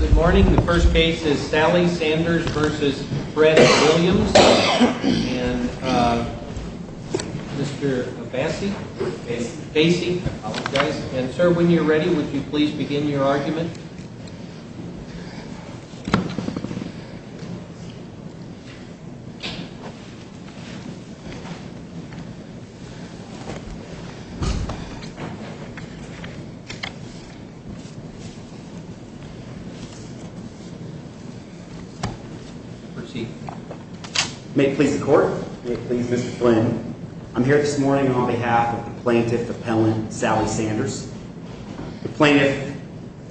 Good morning. The first case is Sally Sanders v. Fred Williams and Mr. Bassey, I apologize, and sir, when you're ready, would you please begin your argument? I'm here this morning on behalf of the plaintiff appellant, Sally Sanders, the plaintiff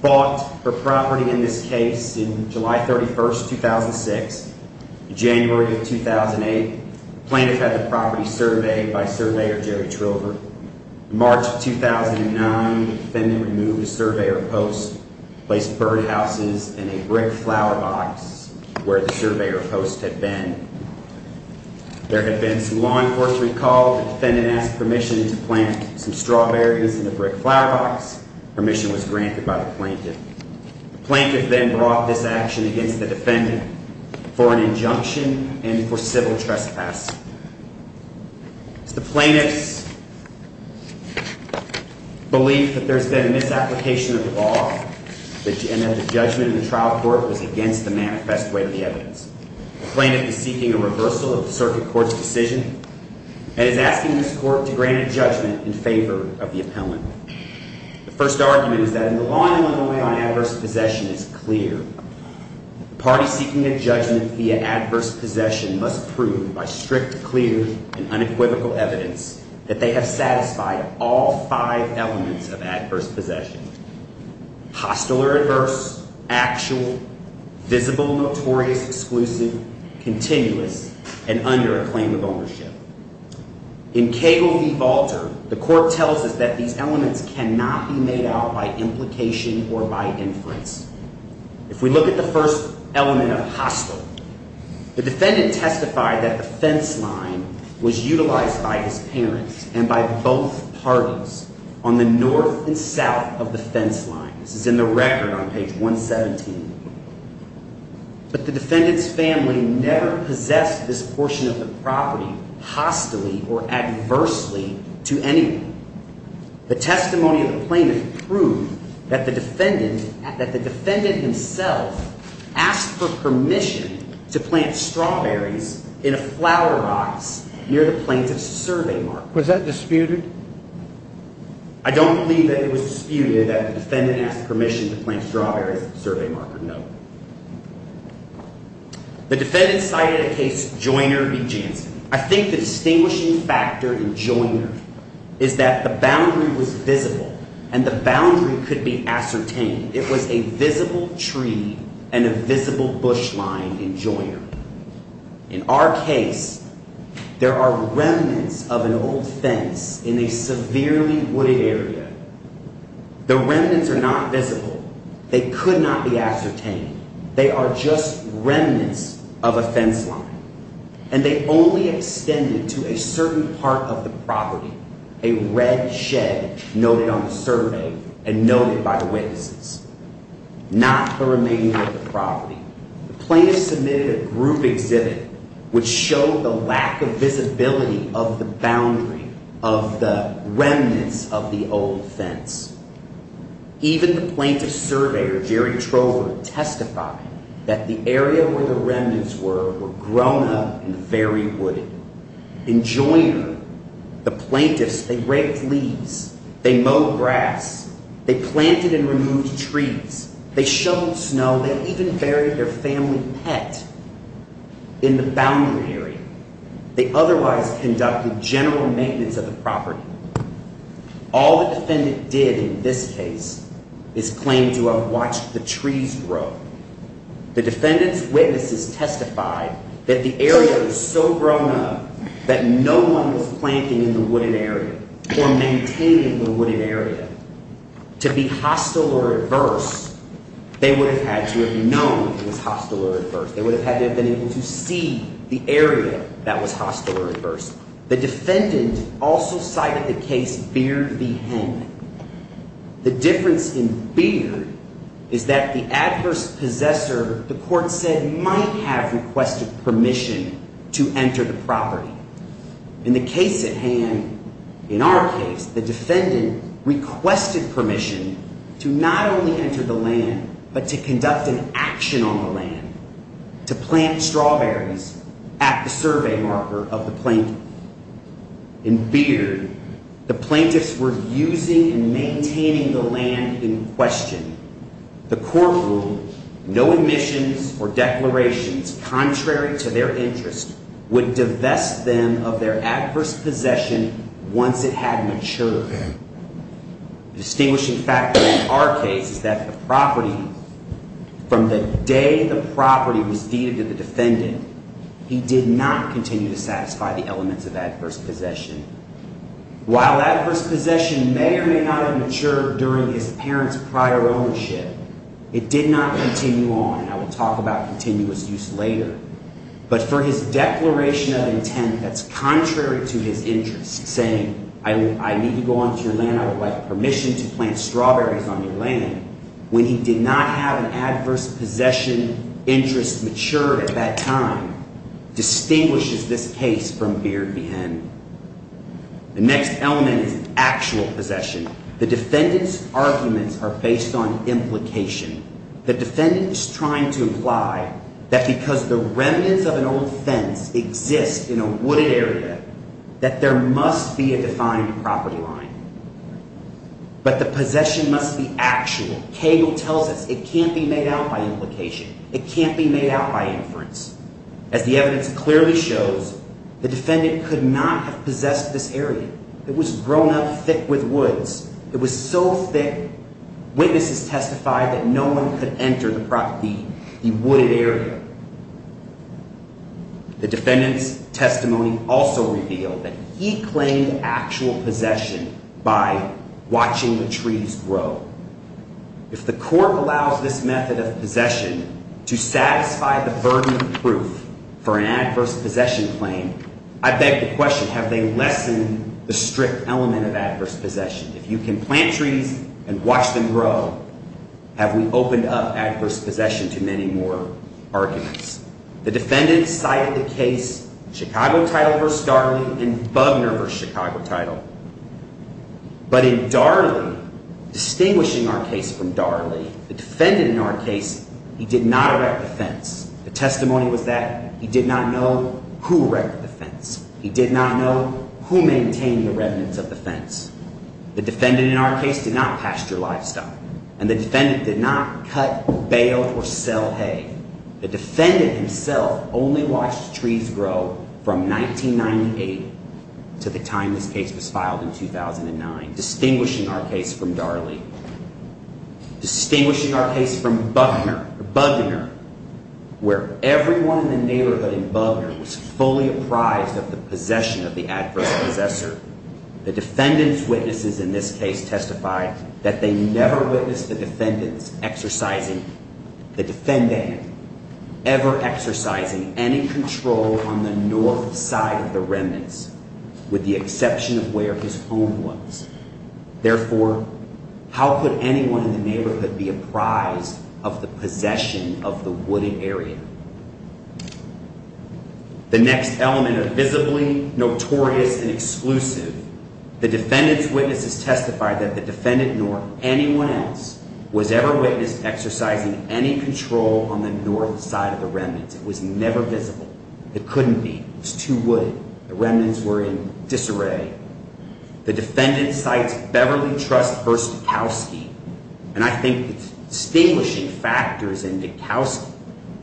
fought for property in this case in July 31st, 2006, January of 2008, plaintiff had the property surveyed by surveyor Jerry Trover. In March 2009, the defendant removed the surveyor post, placed birdhouses in a brick flower box where the surveyor post had been. There had been some law enforcement called, the defendant asked permission to plant some strawberries in the brick flower box, permission was granted by the plaintiff. The plaintiff then brought this action against the defendant for an injunction and for civil trespass. The plaintiff's belief that there's been a misapplication of the law and that the judgment in the trial court was against the manifest way of the evidence. The plaintiff is seeking a reversal of the circuit court's decision and is asking this court to grant a judgment in favor of the appellant. The first argument is that in the law in Illinois on adverse possession is clear, the party seeking a judgment via adverse possession must prove by strict, clear and unequivocal evidence that they have satisfied all five elements of adverse possession. Hostile or adverse, actual, visible, notorious, exclusive, continuous, and under a claim of ownership. In Cagle v. Walter, the court tells us that these elements cannot be made out by implication or by inference. If we look at the first element of hostile, the defendant testified that the fence line was utilized by his parents and by both parties on the north and south of the fence line. This is in the record on page 117. But the defendant's family never possessed this portion of the property hostily or adversely to anyone. The testimony of the plaintiff proved that the defendant himself asked for permission to plant strawberries in a flower box near the plaintiff's survey marker. Was that disputed? I don't believe that it was disputed that the defendant asked permission to plant strawberries at the survey marker, no. The defendant cited a case, Joyner v. Jansen. I think the distinguishing factor in Joyner is that the boundary was visible and the boundary could be ascertained. It was a visible tree and a visible bush line in Joyner. In our case, there are remnants of an old fence in a severely wooded area. The remnants are not visible. They could not be ascertained. They are just remnants of a fence line. And they only extended to a certain part of the property, a red shed noted on the survey and noted by the witnesses, not the remainder of the property. The plaintiff submitted a group exhibit which showed the lack of visibility of the boundary of the remnants of the old fence. Even the plaintiff's surveyor, Jerry Trover, testified that the area where the remnants were were grown up and very wooded. In Joyner, the plaintiffs, they raked leaves, they mowed grass, they planted and removed trees, they shoveled snow, they even buried their family pet in the boundary area. They otherwise conducted general maintenance of the property. All the defendant did in this case is claim to have watched the trees grow. The defendant's witnesses testified that the area was so grown up that no one was planting in the wooded area or maintaining the wooded area. To be hostile or adverse, they would have had to have known it was hostile or adverse. They would have had to have been able to see the area that was hostile or adverse. The defendant also cited the case Beard v. Henn. The difference in Beard is that the adverse possessor, the court said, might have requested permission to enter the property. In the case at hand, in our case, the defendant requested permission to not only enter the land but to conduct an action on the land, to plant strawberries at the survey marker of the plaintiff. In Beard, the plaintiffs were using and maintaining the land in question. The court ruled no admissions or declarations contrary to their interest would divest them of their adverse possession once it had matured. The distinguishing factor in our case is that the property, from the day the property was deeded to the defendant, he did not continue to satisfy the elements of adverse possession. While adverse possession may or may not have matured during his parents' prior ownership, it did not continue on. And I will talk about continuous use later. But for his declaration of intent that's contrary to his interest, saying, I need to go onto your land, I would like permission to plant strawberries on your land, when he did not have an adverse possession interest matured at that time, distinguishes this case from Beard v. Henn. The next element is actual possession. The defendant's arguments are based on implication. The defendant is trying to imply that because the remnants of an old fence exist in a wooded area, that there must be a defined property line. But the possession must be actual. Cagle tells us it can't be made out by implication. It can't be made out by inference. As the evidence clearly shows, the defendant could not have possessed this area. It was grown up thick with woods. It was so thick, witnesses testified that no one could enter the wooded area. The defendant's testimony also revealed that he claimed actual possession by watching the trees grow. If the court allows this method of possession to satisfy the burden of proof for an adverse possession claim, I beg the question, have they lessened the strict element of adverse possession? If you can plant trees and watch them grow, have we opened up adverse possession to many more arguments? The defendant cited the case Chicago Title v. Darley and Bugner v. Chicago Title. But in Darley, distinguishing our case from Darley, the defendant in our case, he did not erect the fence. The testimony was that he did not know who erected the fence. He did not know who maintained the remnants of the fence. The defendant in our case did not pasture livestock. And the defendant did not cut, bale, or sell hay. The defendant himself only watched trees grow from 1998 to the time this case was filed in 2009, distinguishing our case from Darley. Distinguishing our case from Bugner, where everyone in the neighborhood in Bugner was fully apprised of the possession of the adverse possessor. The defendant's witnesses in this case testified that they never witnessed the defendant ever exercising any control on the north side of the remnants, with the exception of where his home was. Therefore, how could anyone in the neighborhood be apprised of the possession of the wooded area? The next element of visibly notorious and exclusive, the defendant's witnesses testified that the defendant, nor anyone else, was ever witnessed exercising any control on the north side of the remnants. It was never visible. It couldn't be. It was too wooded. The remnants were in disarray. The defendant cites Beverly Trust v. Dekowski, and I think the distinguishing factors in Dekowski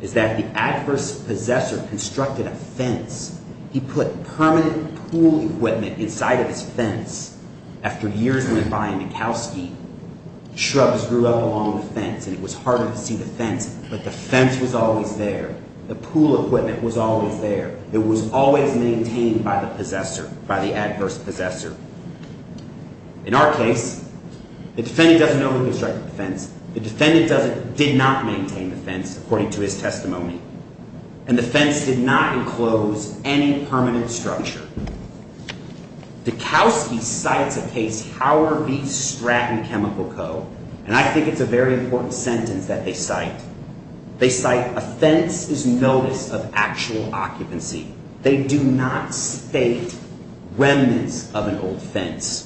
is that the adverse possessor constructed a fence. He put permanent pool equipment inside of his fence. After years went by in Dekowski, shrubs grew up along the fence and it was harder to see the fence, but the fence was always there. The pool equipment was always there. It was always maintained by the possessor, by the adverse possessor. In our case, the defendant doesn't know who constructed the fence. The defendant did not maintain the fence, according to his testimony, and the fence did not enclose any permanent structure. Dekowski cites a case, Howard v. Stratton Chemical Co., and I think it's a very important sentence that they cite. They cite, a fence is notice of actual occupancy. They do not state remnants of an old fence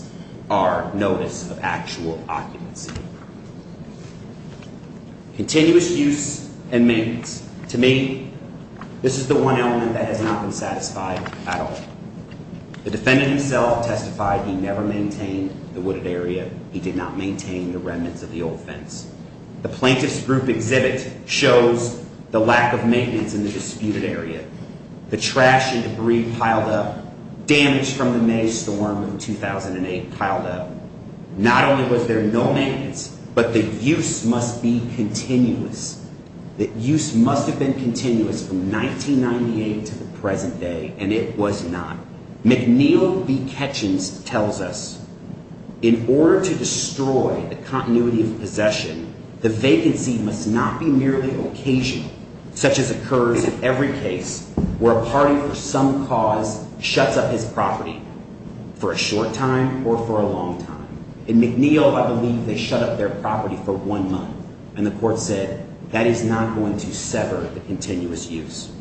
are notice of actual occupancy. Continuous use and maintenance. To me, this is the one element that has not been satisfied at all. The defendant himself testified he never maintained the wooded area. He did not maintain the remnants of the old fence. The plaintiff's group exhibit shows the lack of maintenance in the disputed area. The trash and debris piled up. Damage from the May storm of 2008 piled up. Not only was there no maintenance, but the use must be continuous. The use must have been continuous from 1998 to the present day, and it was not. McNeil v. Ketchins tells us, in order to destroy the continuity of possession, the vacancy must not be merely occasional, such as occurs in every case where a party for some cause shuts up his property for a short time or for a long time. In McNeil, I believe they shut up their property for one month, and the court said that is not going to sever the continuous use.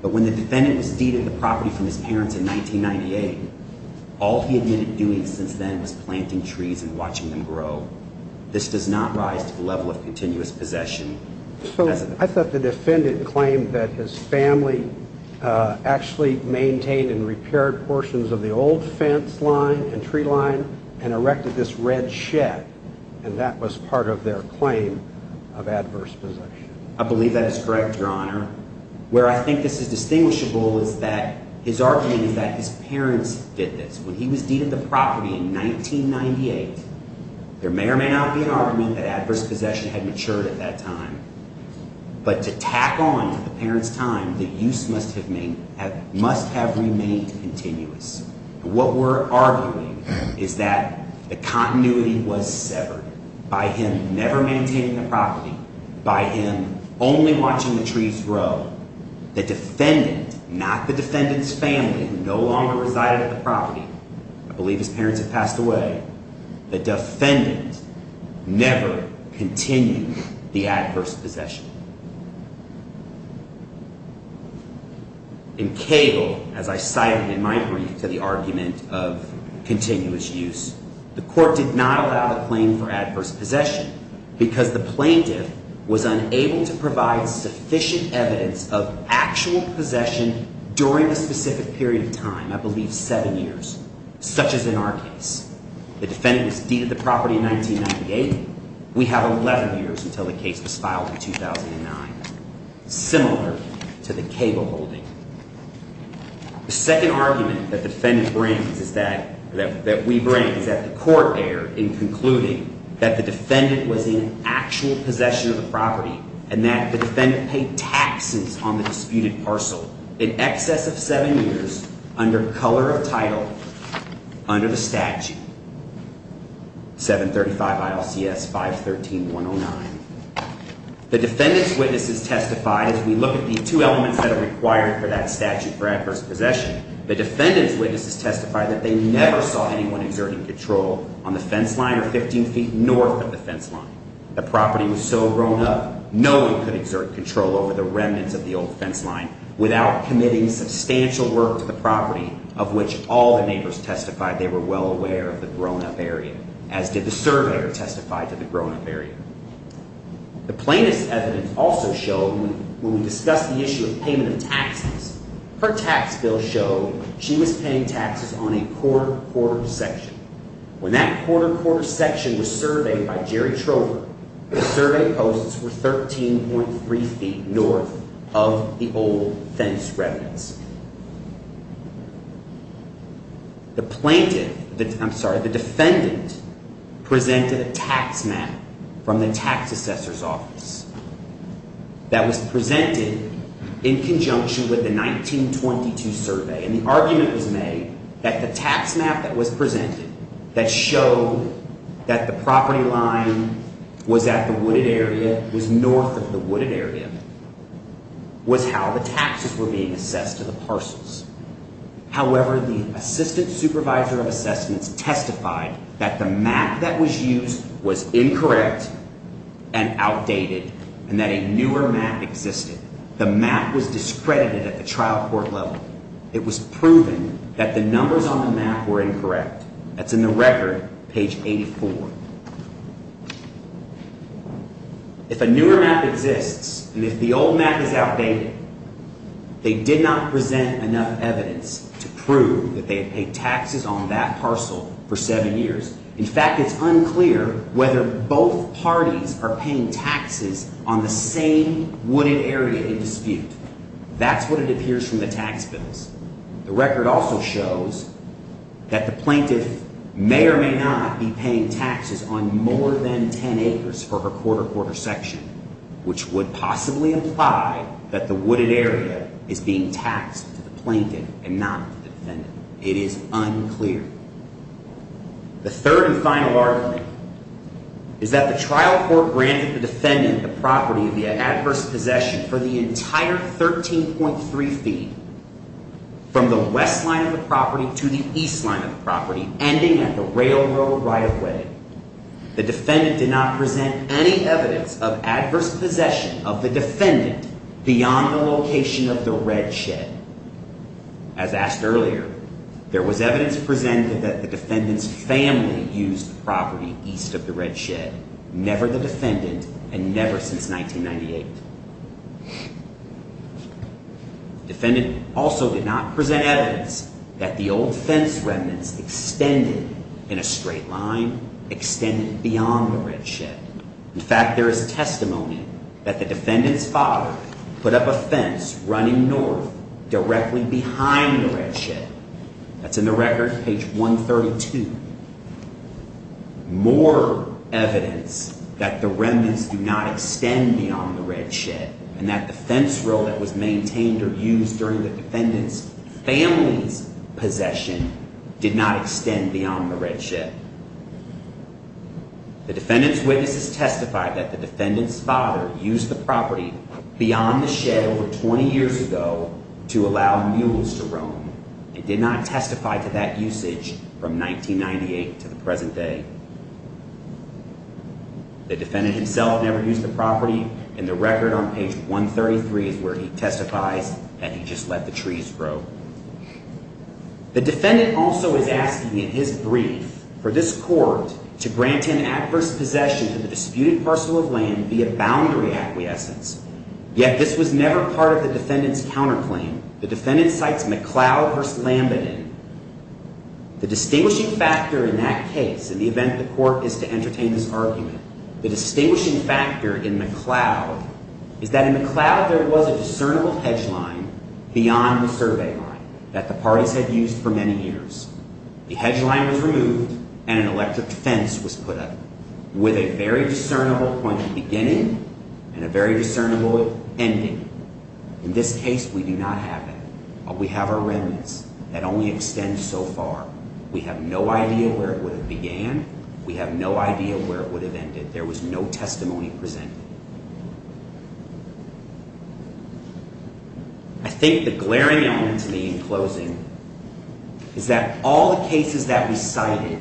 But when the defendant was deeded the property from his parents in 1998, all he had been doing since then was planting trees and watching them grow. This does not rise to the level of continuous possession. I thought the defendant claimed that his family actually maintained and repaired portions of the old fence line and tree line and erected this red shed, and that was part of their claim of adverse possession. I believe that is correct, Your Honor. Where I think this is distinguishable is that his argument is that his parents did this. When he was deeded the property in 1998, there may or may not be an argument that adverse possession had matured at that time, but to tack on to the parents' time, the use must have remained continuous. What we're arguing is that the continuity was severed by him never maintaining the property, by him only watching the trees grow. The defendant, not the defendant's family, no longer resided at the property. I believe his parents had passed away. The defendant never continued the adverse possession. In Cable, as I cited in my brief to the argument of continuous use, the court did not allow the claim for adverse possession because the plaintiff was unable to provide sufficient evidence of actual possession during a specific period of time, I believe seven years, such as in our case. The defendant was deeded the property in 1998. We have 11 years until the case was filed in 2009, similar to the Cable holding. The second argument that we bring is that the court erred in concluding that the defendant was in actual possession of the property and that the defendant paid taxes on the disputed parcel in excess of seven years under color of title under the statute. 735 ILCS 513-109. The defendant's witnesses testified, as we look at the two elements that are required for that statute for adverse possession, the defendant's witnesses testified that they never saw anyone exerting control on the fence line or 15 feet north of the fence line. The property was so grown up, no one could exert control over the remnants of the old fence line without committing substantial work to the property, of which all the neighbors testified they were well aware of the grown-up area, as did the surveyor who testified to the grown-up area. The plaintiff's evidence also showed, when we discussed the issue of payment of taxes, her tax bill showed she was paying taxes on a quarter-quarter section. When that quarter-quarter section was surveyed by Jerry Trover, the survey posts were 13.3 feet north of the old fence remnants. The defendant presented a tax map from the tax assessor's office that was presented in conjunction with the 1922 survey, and the argument was made that the tax map that was presented that showed that the property line was at the wooded area, was north of the wooded area, was how the taxes were being assessed to the parcels. However, the assistant supervisor of assessments testified that the map that was used was incorrect and outdated, and that a newer map existed. The map was discredited at the trial court level. It was proven that the numbers on the map were incorrect. That's in the record, page 84. If a newer map exists, and if the old map is outdated, they did not present enough evidence to prove that they had paid taxes on that parcel for seven years. In fact, it's unclear whether both parties are paying taxes on the same wooded area in dispute. That's what it appears from the tax bills. The record also shows that the plaintiff may or may not be paying taxes on more than 10 acres for her quarter-quarter section, which would possibly imply that the wooded area is being taxed to the plaintiff and not to the defendant. It is unclear. The third and final argument is that the trial court granted the defendant the property of the adverse possession for the entire 13.3 feet, from the west line of the property to the east line of the property, ending at the railroad right-of-way. The defendant did not present any evidence of adverse possession of the defendant beyond the location of the red shed. As asked earlier, there was evidence presented that the defendant's family used the property east of the red shed, never the defendant and never since 1998. The defendant also did not present evidence that the old fence remnants extended in a straight line, extended beyond the red shed. In fact, there is testimony that the defendant's father put up a fence running north directly behind the red shed. That's in the record, page 132. More evidence that the remnants do not extend beyond the red shed and that the fence roll that was maintained or used during the defendant's family's possession did not extend beyond the red shed. The defendant's witnesses testified that the defendant's father used the property beyond the shed over 20 years ago to allow mules to roam and did not testify to that usage from 1998 to the present day. The defendant himself never used the property and the record on page 133 is where he testifies that he just let the trees grow. The defendant also is asking in his brief for this court to grant an adverse possession to the disputed parcel of land via boundary acquiescence. Yet this was never part of the defendant's counterclaim. The defendant cites McLeod v. Lambenon. The distinguishing factor in that case, in the event the court is to entertain this argument, the distinguishing factor in McLeod is that in McLeod there was a discernible hedge line beyond the survey line that the parties had used for many years. The hedge line was removed and an electric fence was put up with a very discernible point of beginning and a very discernible ending. In this case, we do not have that. We have our remnants that only extend so far. We have no idea where it would have began. We have no idea where it would have ended. There was no testimony presented. I think the glaring element to me in closing is that all the cases that we cited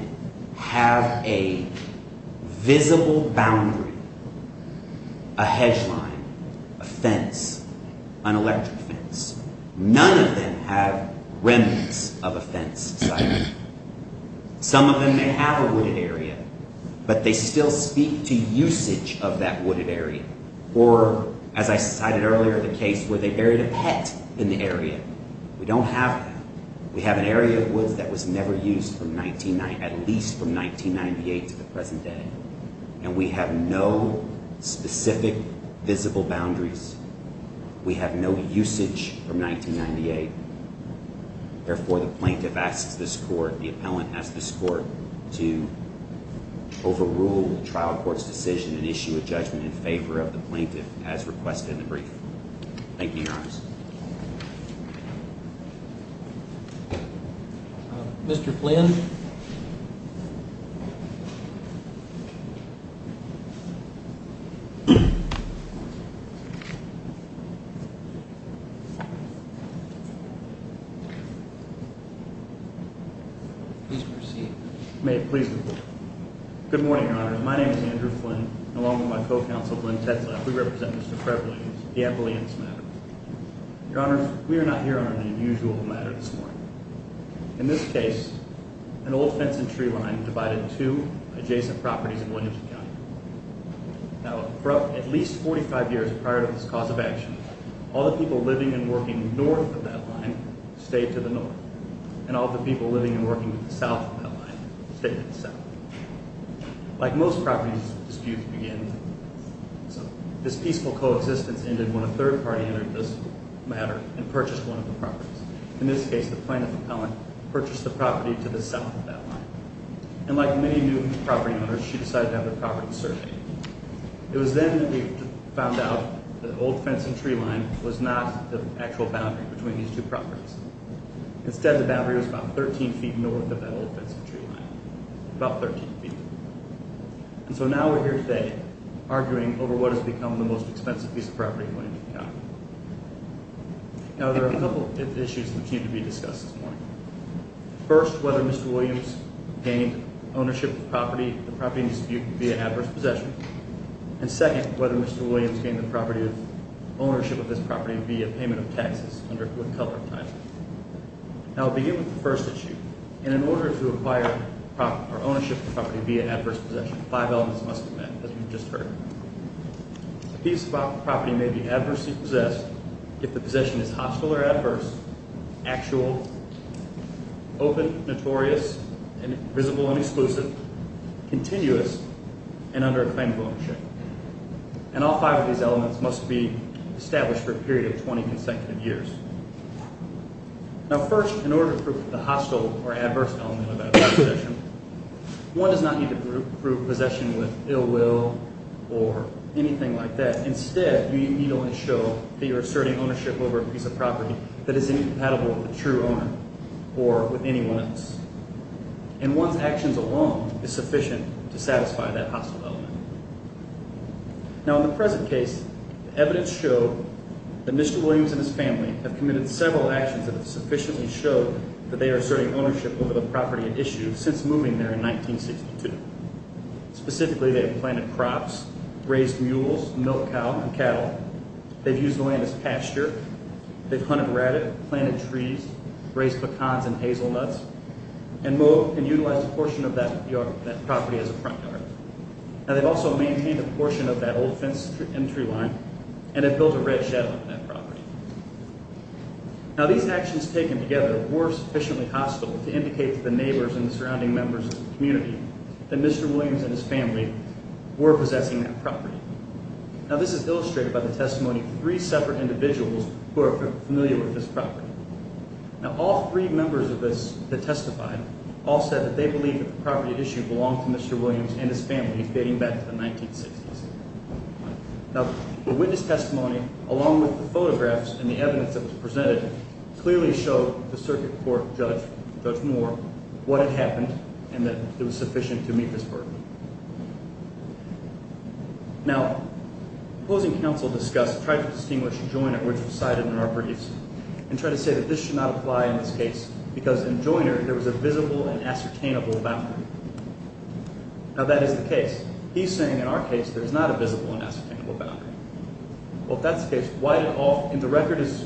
have a visible boundary, a hedge line, a fence, an electric fence. None of them have remnants of a fence cited. Some of them may have a wooded area, but they still speak to usage of that wooded area. Or, as I cited earlier, the case where they buried a pet in the area. We don't have that. We have an area of woods that was never used at least from 1998 to the present day. And we have no specific visible boundaries. We have no usage from 1998. Therefore, the plaintiff asks this court, the appellant asks this court, to overrule the trial court's decision and issue a judgment in favor of the plaintiff as requested in the brief. Thank you, Your Honors. Mr. Flynn. Please proceed. May it please the court. Good morning, Your Honors. My name is Andrew Flynn. Along with my co-counsel, Lynn Tetzla, we represent Mr. Preble in the appellant's matter. Your Honors, we are not here on an unusual matter this morning. In this case, an old fence and tree line divided two adjacent properties in Williamson County. Now, for at least 45 years prior to this cause of action, all the people living and working north of that line stayed to the north. And all the people living and working south of that line stayed to the south. Like most property disputes begin, this peaceful coexistence ended when a third party entered this matter and purchased one of the properties. In this case, the plaintiff, the appellant, purchased the property to the south of that line. And like many new property owners, she decided to have the property surveyed. It was then that we found out that the old fence and tree line was not the actual boundary between these two properties. Instead, the boundary was about 13 feet north of that old fence and tree line. About 13 feet. And so now we're here today, arguing over what has become the most expensive piece of property in Williamson County. Now, there are a couple issues that seem to be discussed this morning. First, whether Mr. Williams gained ownership of the property in dispute via adverse possession. And second, whether Mr. Williams gained ownership of this property via payment of taxes under foot cover type. Now, I'll begin with the first issue. And in order to acquire ownership of the property via adverse possession, five elements must be met, as we've just heard. A piece of property may be adversely possessed if the possession is hostile or adverse, actual, open, notorious, visible and exclusive, continuous, and under a claim of ownership. And all five of these elements must be established for a period of 20 consecutive years. Now, first, in order to prove the hostile or adverse element of adverse possession, one does not need to prove possession with ill will or anything like that. Instead, you need only show that you're asserting ownership over a piece of property that is incompatible with the true owner or with anyone else. And one's actions alone is sufficient to satisfy that hostile element. Now, in the present case, evidence showed that Mr. Williams and his family have committed several actions that sufficiently show that they are asserting ownership over the property at issue since moving there in 1962. Specifically, they have planted crops, raised mules, milked cow and cattle. They've used the land as pasture. They've hunted rabbit, planted trees, raised pecans and hazelnuts, and moved and utilized a portion of that property as a front yard. Now, they've also maintained a portion of that old fence entry line and have built a red shadow on that property. Now, these actions taken together were sufficiently hostile to indicate to the neighbors and the surrounding members of the community that Mr. Williams and his family were possessing that property. Now, this is illustrated by the testimony of three separate individuals who are familiar with this property. Now, all three members of this that testified all said that they believe that the property at issue belonged to Mr. Williams and his family dating back to the 1960s. Now, the witness testimony, along with the photographs and the evidence that was presented, clearly showed the circuit court judge, Judge Moore, what had happened and that it was sufficient to meet this burden. Now, opposing counsel discussed and tried to distinguish Joyner, which was cited in our briefs, and tried to say that this should not apply in this case because in Joyner there was a visible and ascertainable boundary. Now, that is the case. He's saying in our case there's not a visible and ascertainable boundary. Well, if that's the case, why did all, and the record is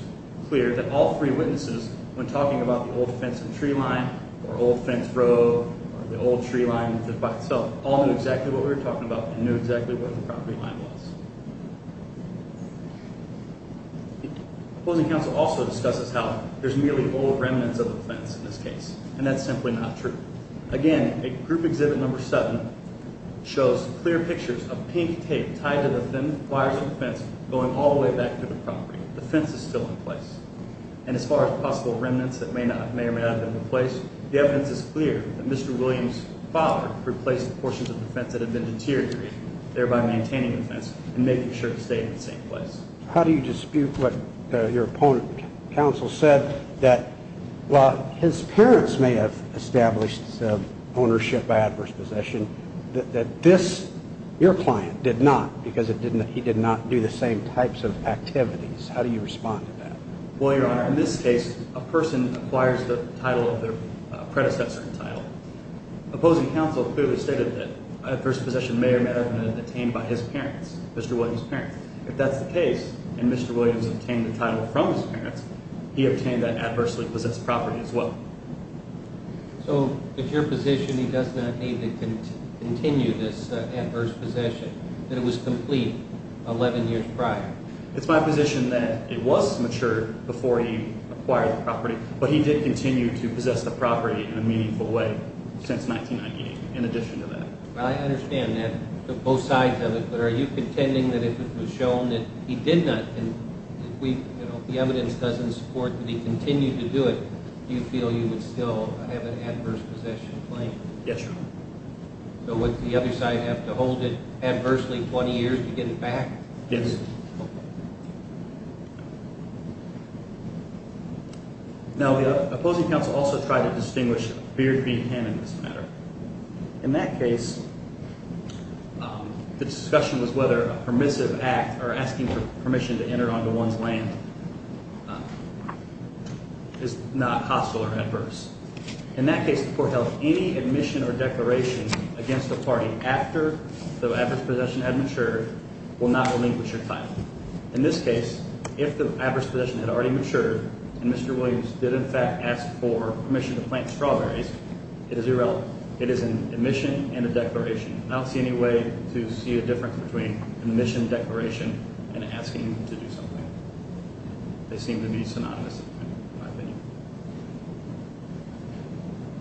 clear that all three witnesses, when talking about the old fence and tree line or old fence road or the old tree line by itself, all knew exactly what we were talking about and knew exactly what the property line was. Opposing counsel also discusses how there's merely old remnants of the fence in this case, and that's simply not true. Again, a group exhibit number seven shows clear pictures of pink tape tied to the thin wires of the fence going all the way back to the property. The fence is still in place. And as far as possible remnants that may or may not have been replaced, the evidence is clear that Mr. Williams' father replaced portions of the fence that had been deteriorated, thereby maintaining the fence and making sure it stayed in the same place. How do you dispute what your opponent, counsel, said that, while his parents may have established ownership by adverse possession, that this, your client, did not because he did not do the same types of activities. How do you respond to that? Well, Your Honor, in this case, a person acquires the title of their predecessor in title. Opposing counsel clearly stated that adverse possession may or may not have been obtained by his parents, Mr. Williams' parents. If that's the case, and Mr. Williams obtained the title from his parents, he obtained that adversely possessed property as well. So, if your position is that he does not need to continue this adverse possession, that it was complete eleven years prior? It's my position that it was mature before he acquired the property, but he did continue to possess the property in a meaningful way since 1998, in addition to that. Well, I understand that, both sides of it, but are you contending that if it was shown that he did not, and the evidence doesn't support that he continued to do it, do you feel you would still have an adverse possession claim? Yes, Your Honor. So, would the other side have to hold it adversely twenty years to get it back? Yes. Now, the opposing counsel also tried to distinguish a fear-free hand in this matter. In that case, the discussion was whether a permissive act, or asking for permission to enter onto one's land, is not hostile or adverse. In that case, the court held any admission or declaration against the party after the adverse possession had matured will not relinquish your title. In this case, if the adverse possession had already matured, and Mr. Williams did in fact ask for permission to plant strawberries, it is irrelevant. It is an admission and a declaration. I don't see any way to see a difference between an admission and declaration and asking him to do something. They seem to be synonymous, in my opinion.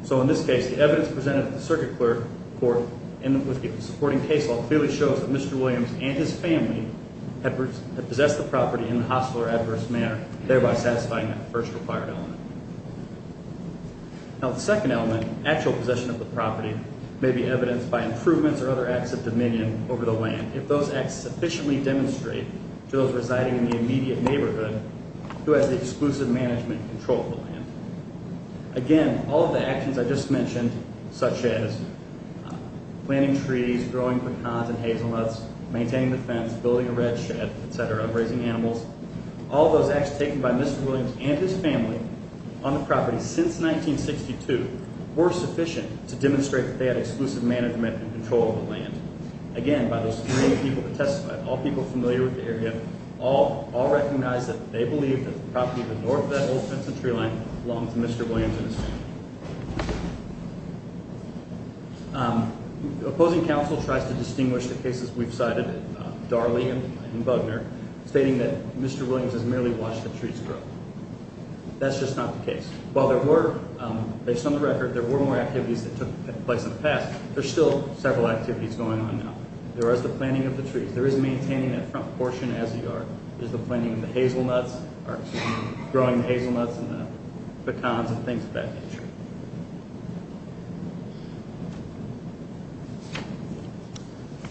So, in this case, the evidence presented at the circuit court, with the supporting case law, clearly shows that Mr. Williams and his family have possessed the property in a hostile or adverse manner, thereby satisfying that first required element. Now, the second element, actual possession of the property, may be evidenced by improvements or other acts of dominion over the land if those acts sufficiently demonstrate to those residing in the immediate neighborhood who has the exclusive management and control of the land. Again, all of the actions I just mentioned, such as planting trees, growing pecans and hazelnuts, maintaining the fence, building a red shed, etc., raising animals, all those acts taken by Mr. Williams and his family on the property since 1962 were sufficient to demonstrate that they had exclusive management and control of the land. Again, by those three people who testified, all people familiar with the area, all recognize that they believe that the property to the north of that old fence and tree line belongs to Mr. Williams and his family. The opposing counsel tries to distinguish the cases we've cited, Darley and Bugner, stating that Mr. Williams has merely watched the trees grow. That's just not the case. While there were, based on the record, there were more activities that took place in the past, there's still several activities going on now. There is the planting of the trees. There is maintaining that front portion as a yard. There's the planting of the hazelnuts, or, excuse me, growing the hazelnuts and the pecans and things of that nature.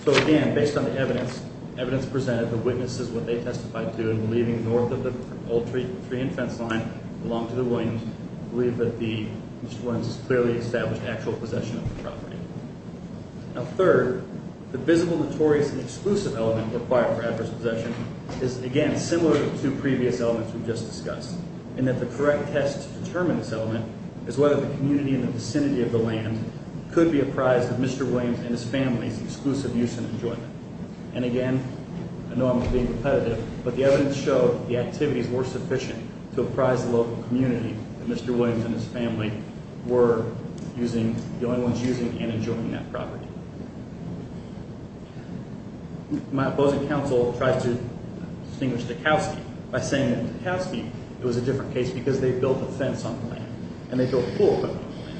So, again, based on the evidence presented, the witnesses, what they testified to, believing north of the old tree and fence line belonged to the Williams, believe that Mr. Williams has clearly established actual possession of the property. Now, third, the visible, notorious, and exclusive element required for adverse possession is, again, similar to previous elements we've just discussed, in that the correct test to determine this element is whether the community in the vicinity of the land could be apprised of Mr. Williams and his family's exclusive use and enjoyment. And, again, I know I'm being repetitive, but the evidence showed that the activities were sufficient to apprise the local community that Mr. Williams and his family were using, the only ones using and enjoying that property. My opposing counsel tried to distinguish Dukowski by saying that Dukowski, it was a different case, because they built a fence on the land, and they built a pool equipment on the land.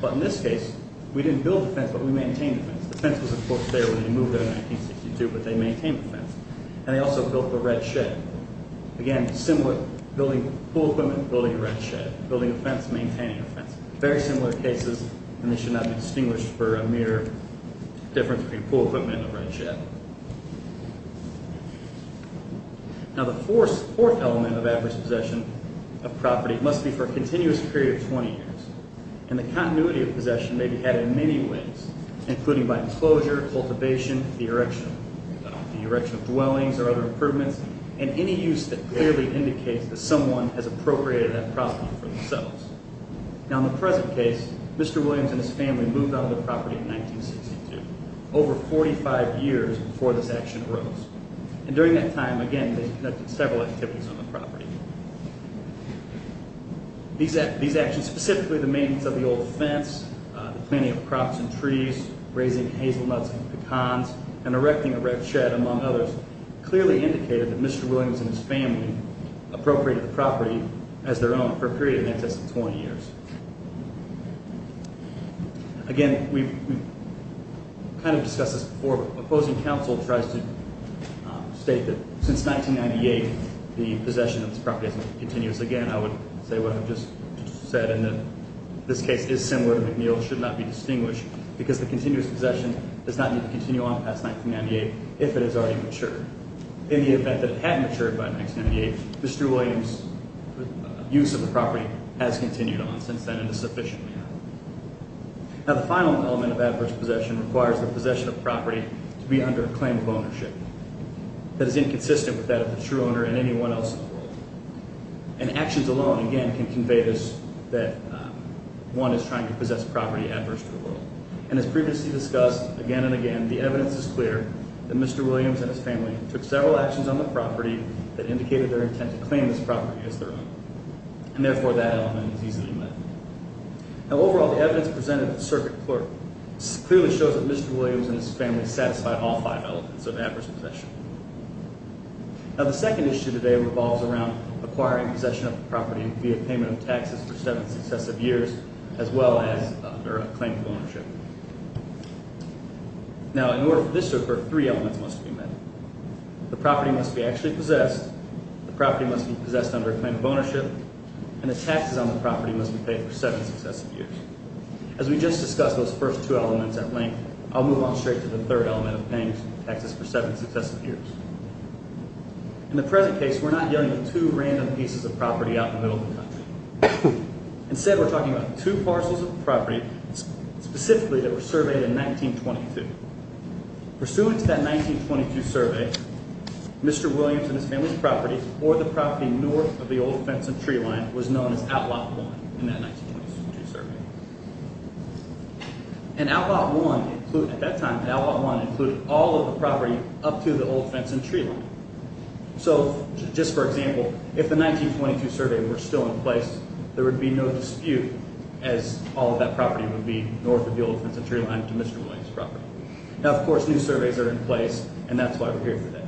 But in this case, we didn't build the fence, but we maintained the fence. The fence was, of course, there when they moved there in 1962, but they maintained the fence. And they also built the red shed. Again, similar, pool equipment, building a red shed. Building a fence, maintaining a fence. Very similar cases, and they should not be distinguished for a mere difference between pool equipment and a red shed. Now, the fourth element of adverse possession of property must be for a continuous period of 20 years. And the continuity of possession may be had in many ways, including by enclosure, cultivation, the erection. The erection of dwellings or other improvements, and any use that clearly indicates that someone has appropriated that property for themselves. Now, in the present case, Mr. Williams and his family moved out of the property in 1962, over 45 years before this action arose. And during that time, again, they conducted several activities on the property. These actions, specifically the maintenance of the old fence, the planting of crops and trees, raising hazelnuts and pecans, and erecting a red shed, among others, clearly indicated that Mr. Williams and his family appropriated the property as their own for a period in excess of 20 years. Again, we've kind of discussed this before, but opposing counsel tries to state that since 1998, the possession of this property has been continuous. Again, I would say what I've just said, and that this case is similar to McNeill's, should not be distinguished, because the continuous possession does not need to continue on past 1998, if it has already matured. In the event that it had matured by 1998, Mr. Williams' use of the property has continued on since then, and is sufficiently old. Now, the final element of adverse possession requires the possession of property to be under a claim of ownership that is inconsistent with that of the true owner and anyone else in the world. And actions alone, again, can convey this, that one is trying to possess property adverse to the world. And as previously discussed, again and again, the evidence is clear that Mr. Williams and his family took several actions on the property that indicated their intent to claim this property as their own. And therefore, that element is easily met. Now, overall, the evidence presented at the circuit court clearly shows that Mr. Williams and his family satisfied all five elements of adverse possession. Now, the second issue today revolves around acquiring possession of the property via payment of taxes for seven successive years, as well as under a claim of ownership. Now, in order for this to occur, three elements must be met. The property must be actually possessed, the property must be possessed under a claim of ownership, and the taxes on the property must be paid for seven successive years. As we just discussed those first two elements at length, I'll move on straight to the third element of paying taxes for seven successive years. In the present case, we're not dealing with two random pieces of property out in the middle of the country. Instead, we're talking about two parcels of property specifically that were surveyed in 1922. Pursuant to that 1922 survey, Mr. Williams and his family's property, or the property north of the Old Fenton tree line, was known as Outlot 1 in that 1922 survey. And Outlot 1, at that time, Outlot 1 included all of the property up to the Old Fenton tree line. So, just for example, if the 1922 survey were still in place, there would be no dispute as all of that property would be north of the Old Fenton tree line to Mr. Williams' property. Now, of course, new surveys are in place, and that's why we're here today.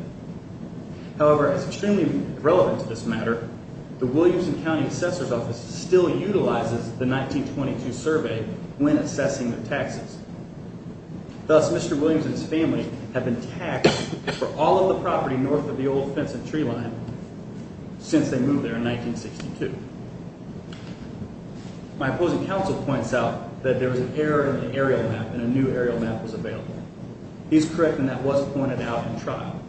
However, as extremely relevant to this matter, the Williams County Assessor's Office still utilizes the 1922 survey when assessing the taxes. Thus, Mr. Williams and his family have been taxed for all of the property north of the Old Fenton tree line since they moved there in 1962. My opposing counsel points out that there was an error in the aerial map, and a new aerial map was available. He's correct, and that was pointed out in trial.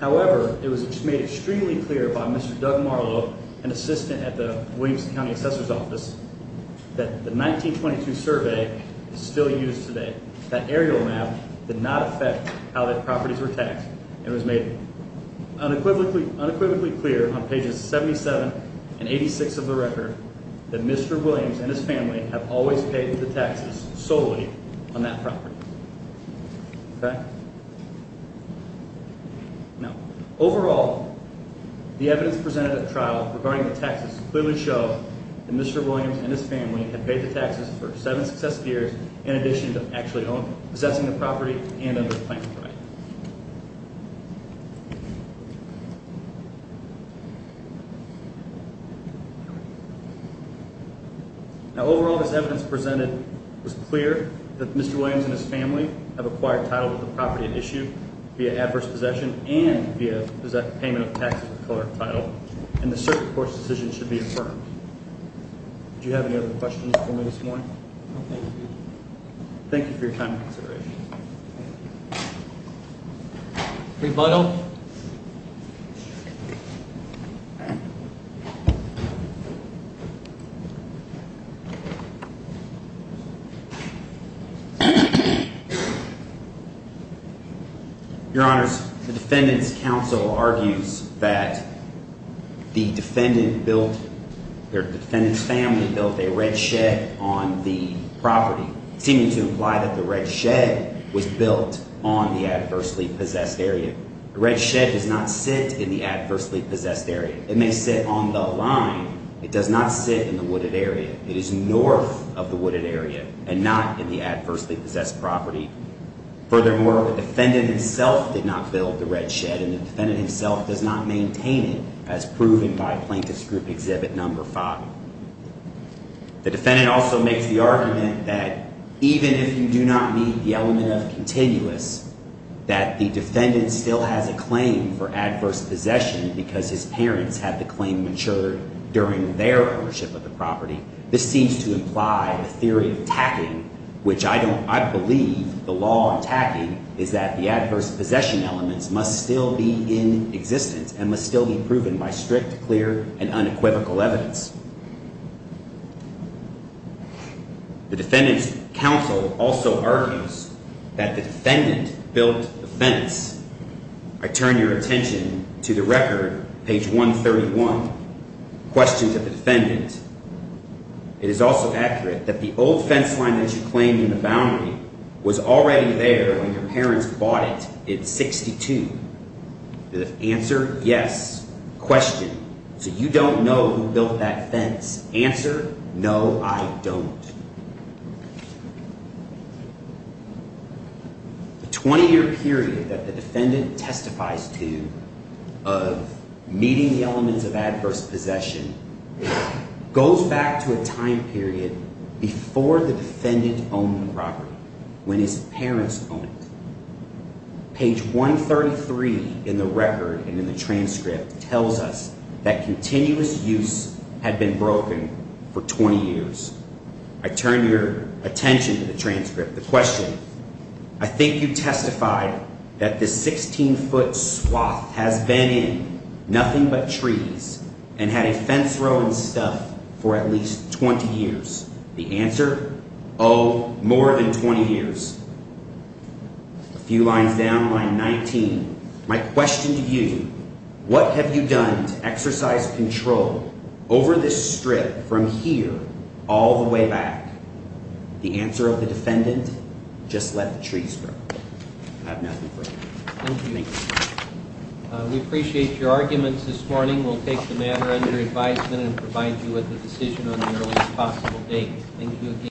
However, it was made extremely clear by Mr. Doug Marlow, an assistant at the Williams County Assessor's Office, that the 1922 survey is still used today. That aerial map did not affect how the properties were taxed, and it was made unequivocally clear on pages 77 and 86 of the record that Mr. Williams and his family have always paid the taxes solely on that property. Okay? Now, overall, the evidence presented at trial regarding the taxes clearly show that Mr. Williams and his family had paid the taxes for seven successive years in addition to actually possessing the property and under the planning right. Now, overall, this evidence presented was clear that Mr. Williams and his family have acquired title with the property at issue via adverse possession and via payment of taxes with colored title, and the circuit court's decision should be affirmed. No, thank you. Thank you for your time and consideration. Rebuttal. Your Honors, the Defendant's Counsel argues that the defendant built... their defendant's family built a red shed on the property, seeming to imply that the red shed was built on the adversely-possessed area. The red shed does not sit in the adversely-possessed area. It may sit on the line. It does not sit in the wooded area. It is north of the wooded area and not in the adversely-possessed property. Furthermore, the defendant himself did not build the red shed, and the defendant himself does not maintain it as proven by Plaintiff's Group Exhibit No. 5. The defendant also makes the argument that even if you do not meet the element of continuous, that the defendant still has a claim for adverse possession because his parents had the claim matured during their ownership of the property. This seems to imply a theory of tacking, which I believe the law on tacking is that the adverse possession elements must still be in existence and must still be proven by strict, clear, and unequivocal evidence. The Defendant's Counsel also argues that the defendant built the fence. I turn your attention to the record, page 131, Question to the Defendant. It is also accurate that the old fence line that you claimed in the boundary was already there when your parents bought it in 62. The answer? Yes. Question? You don't know who built that fence. Answer? No, I don't. The 20-year period that the defendant testifies to of meeting the elements of adverse possession goes back to a time period before the defendant owned the property, when his parents owned it. Page 133 in the record and in the transcript tells us that continuous use had been broken for 20 years. I turn your attention to the transcript. The question? I think you testified that this 16-foot swath has been in nothing but trees and had a fence row and stuff for at least 20 years. The answer? Oh, more than 20 years. A few lines down, line 19. My question to you, what have you done to exercise control over this strip from here all the way back? The answer of the defendant? Just let the trees grow. I have nothing further. Thank you. We appreciate your arguments this morning. We'll take the matter under advisement and provide you with a decision on the earliest possible date. Thank you again.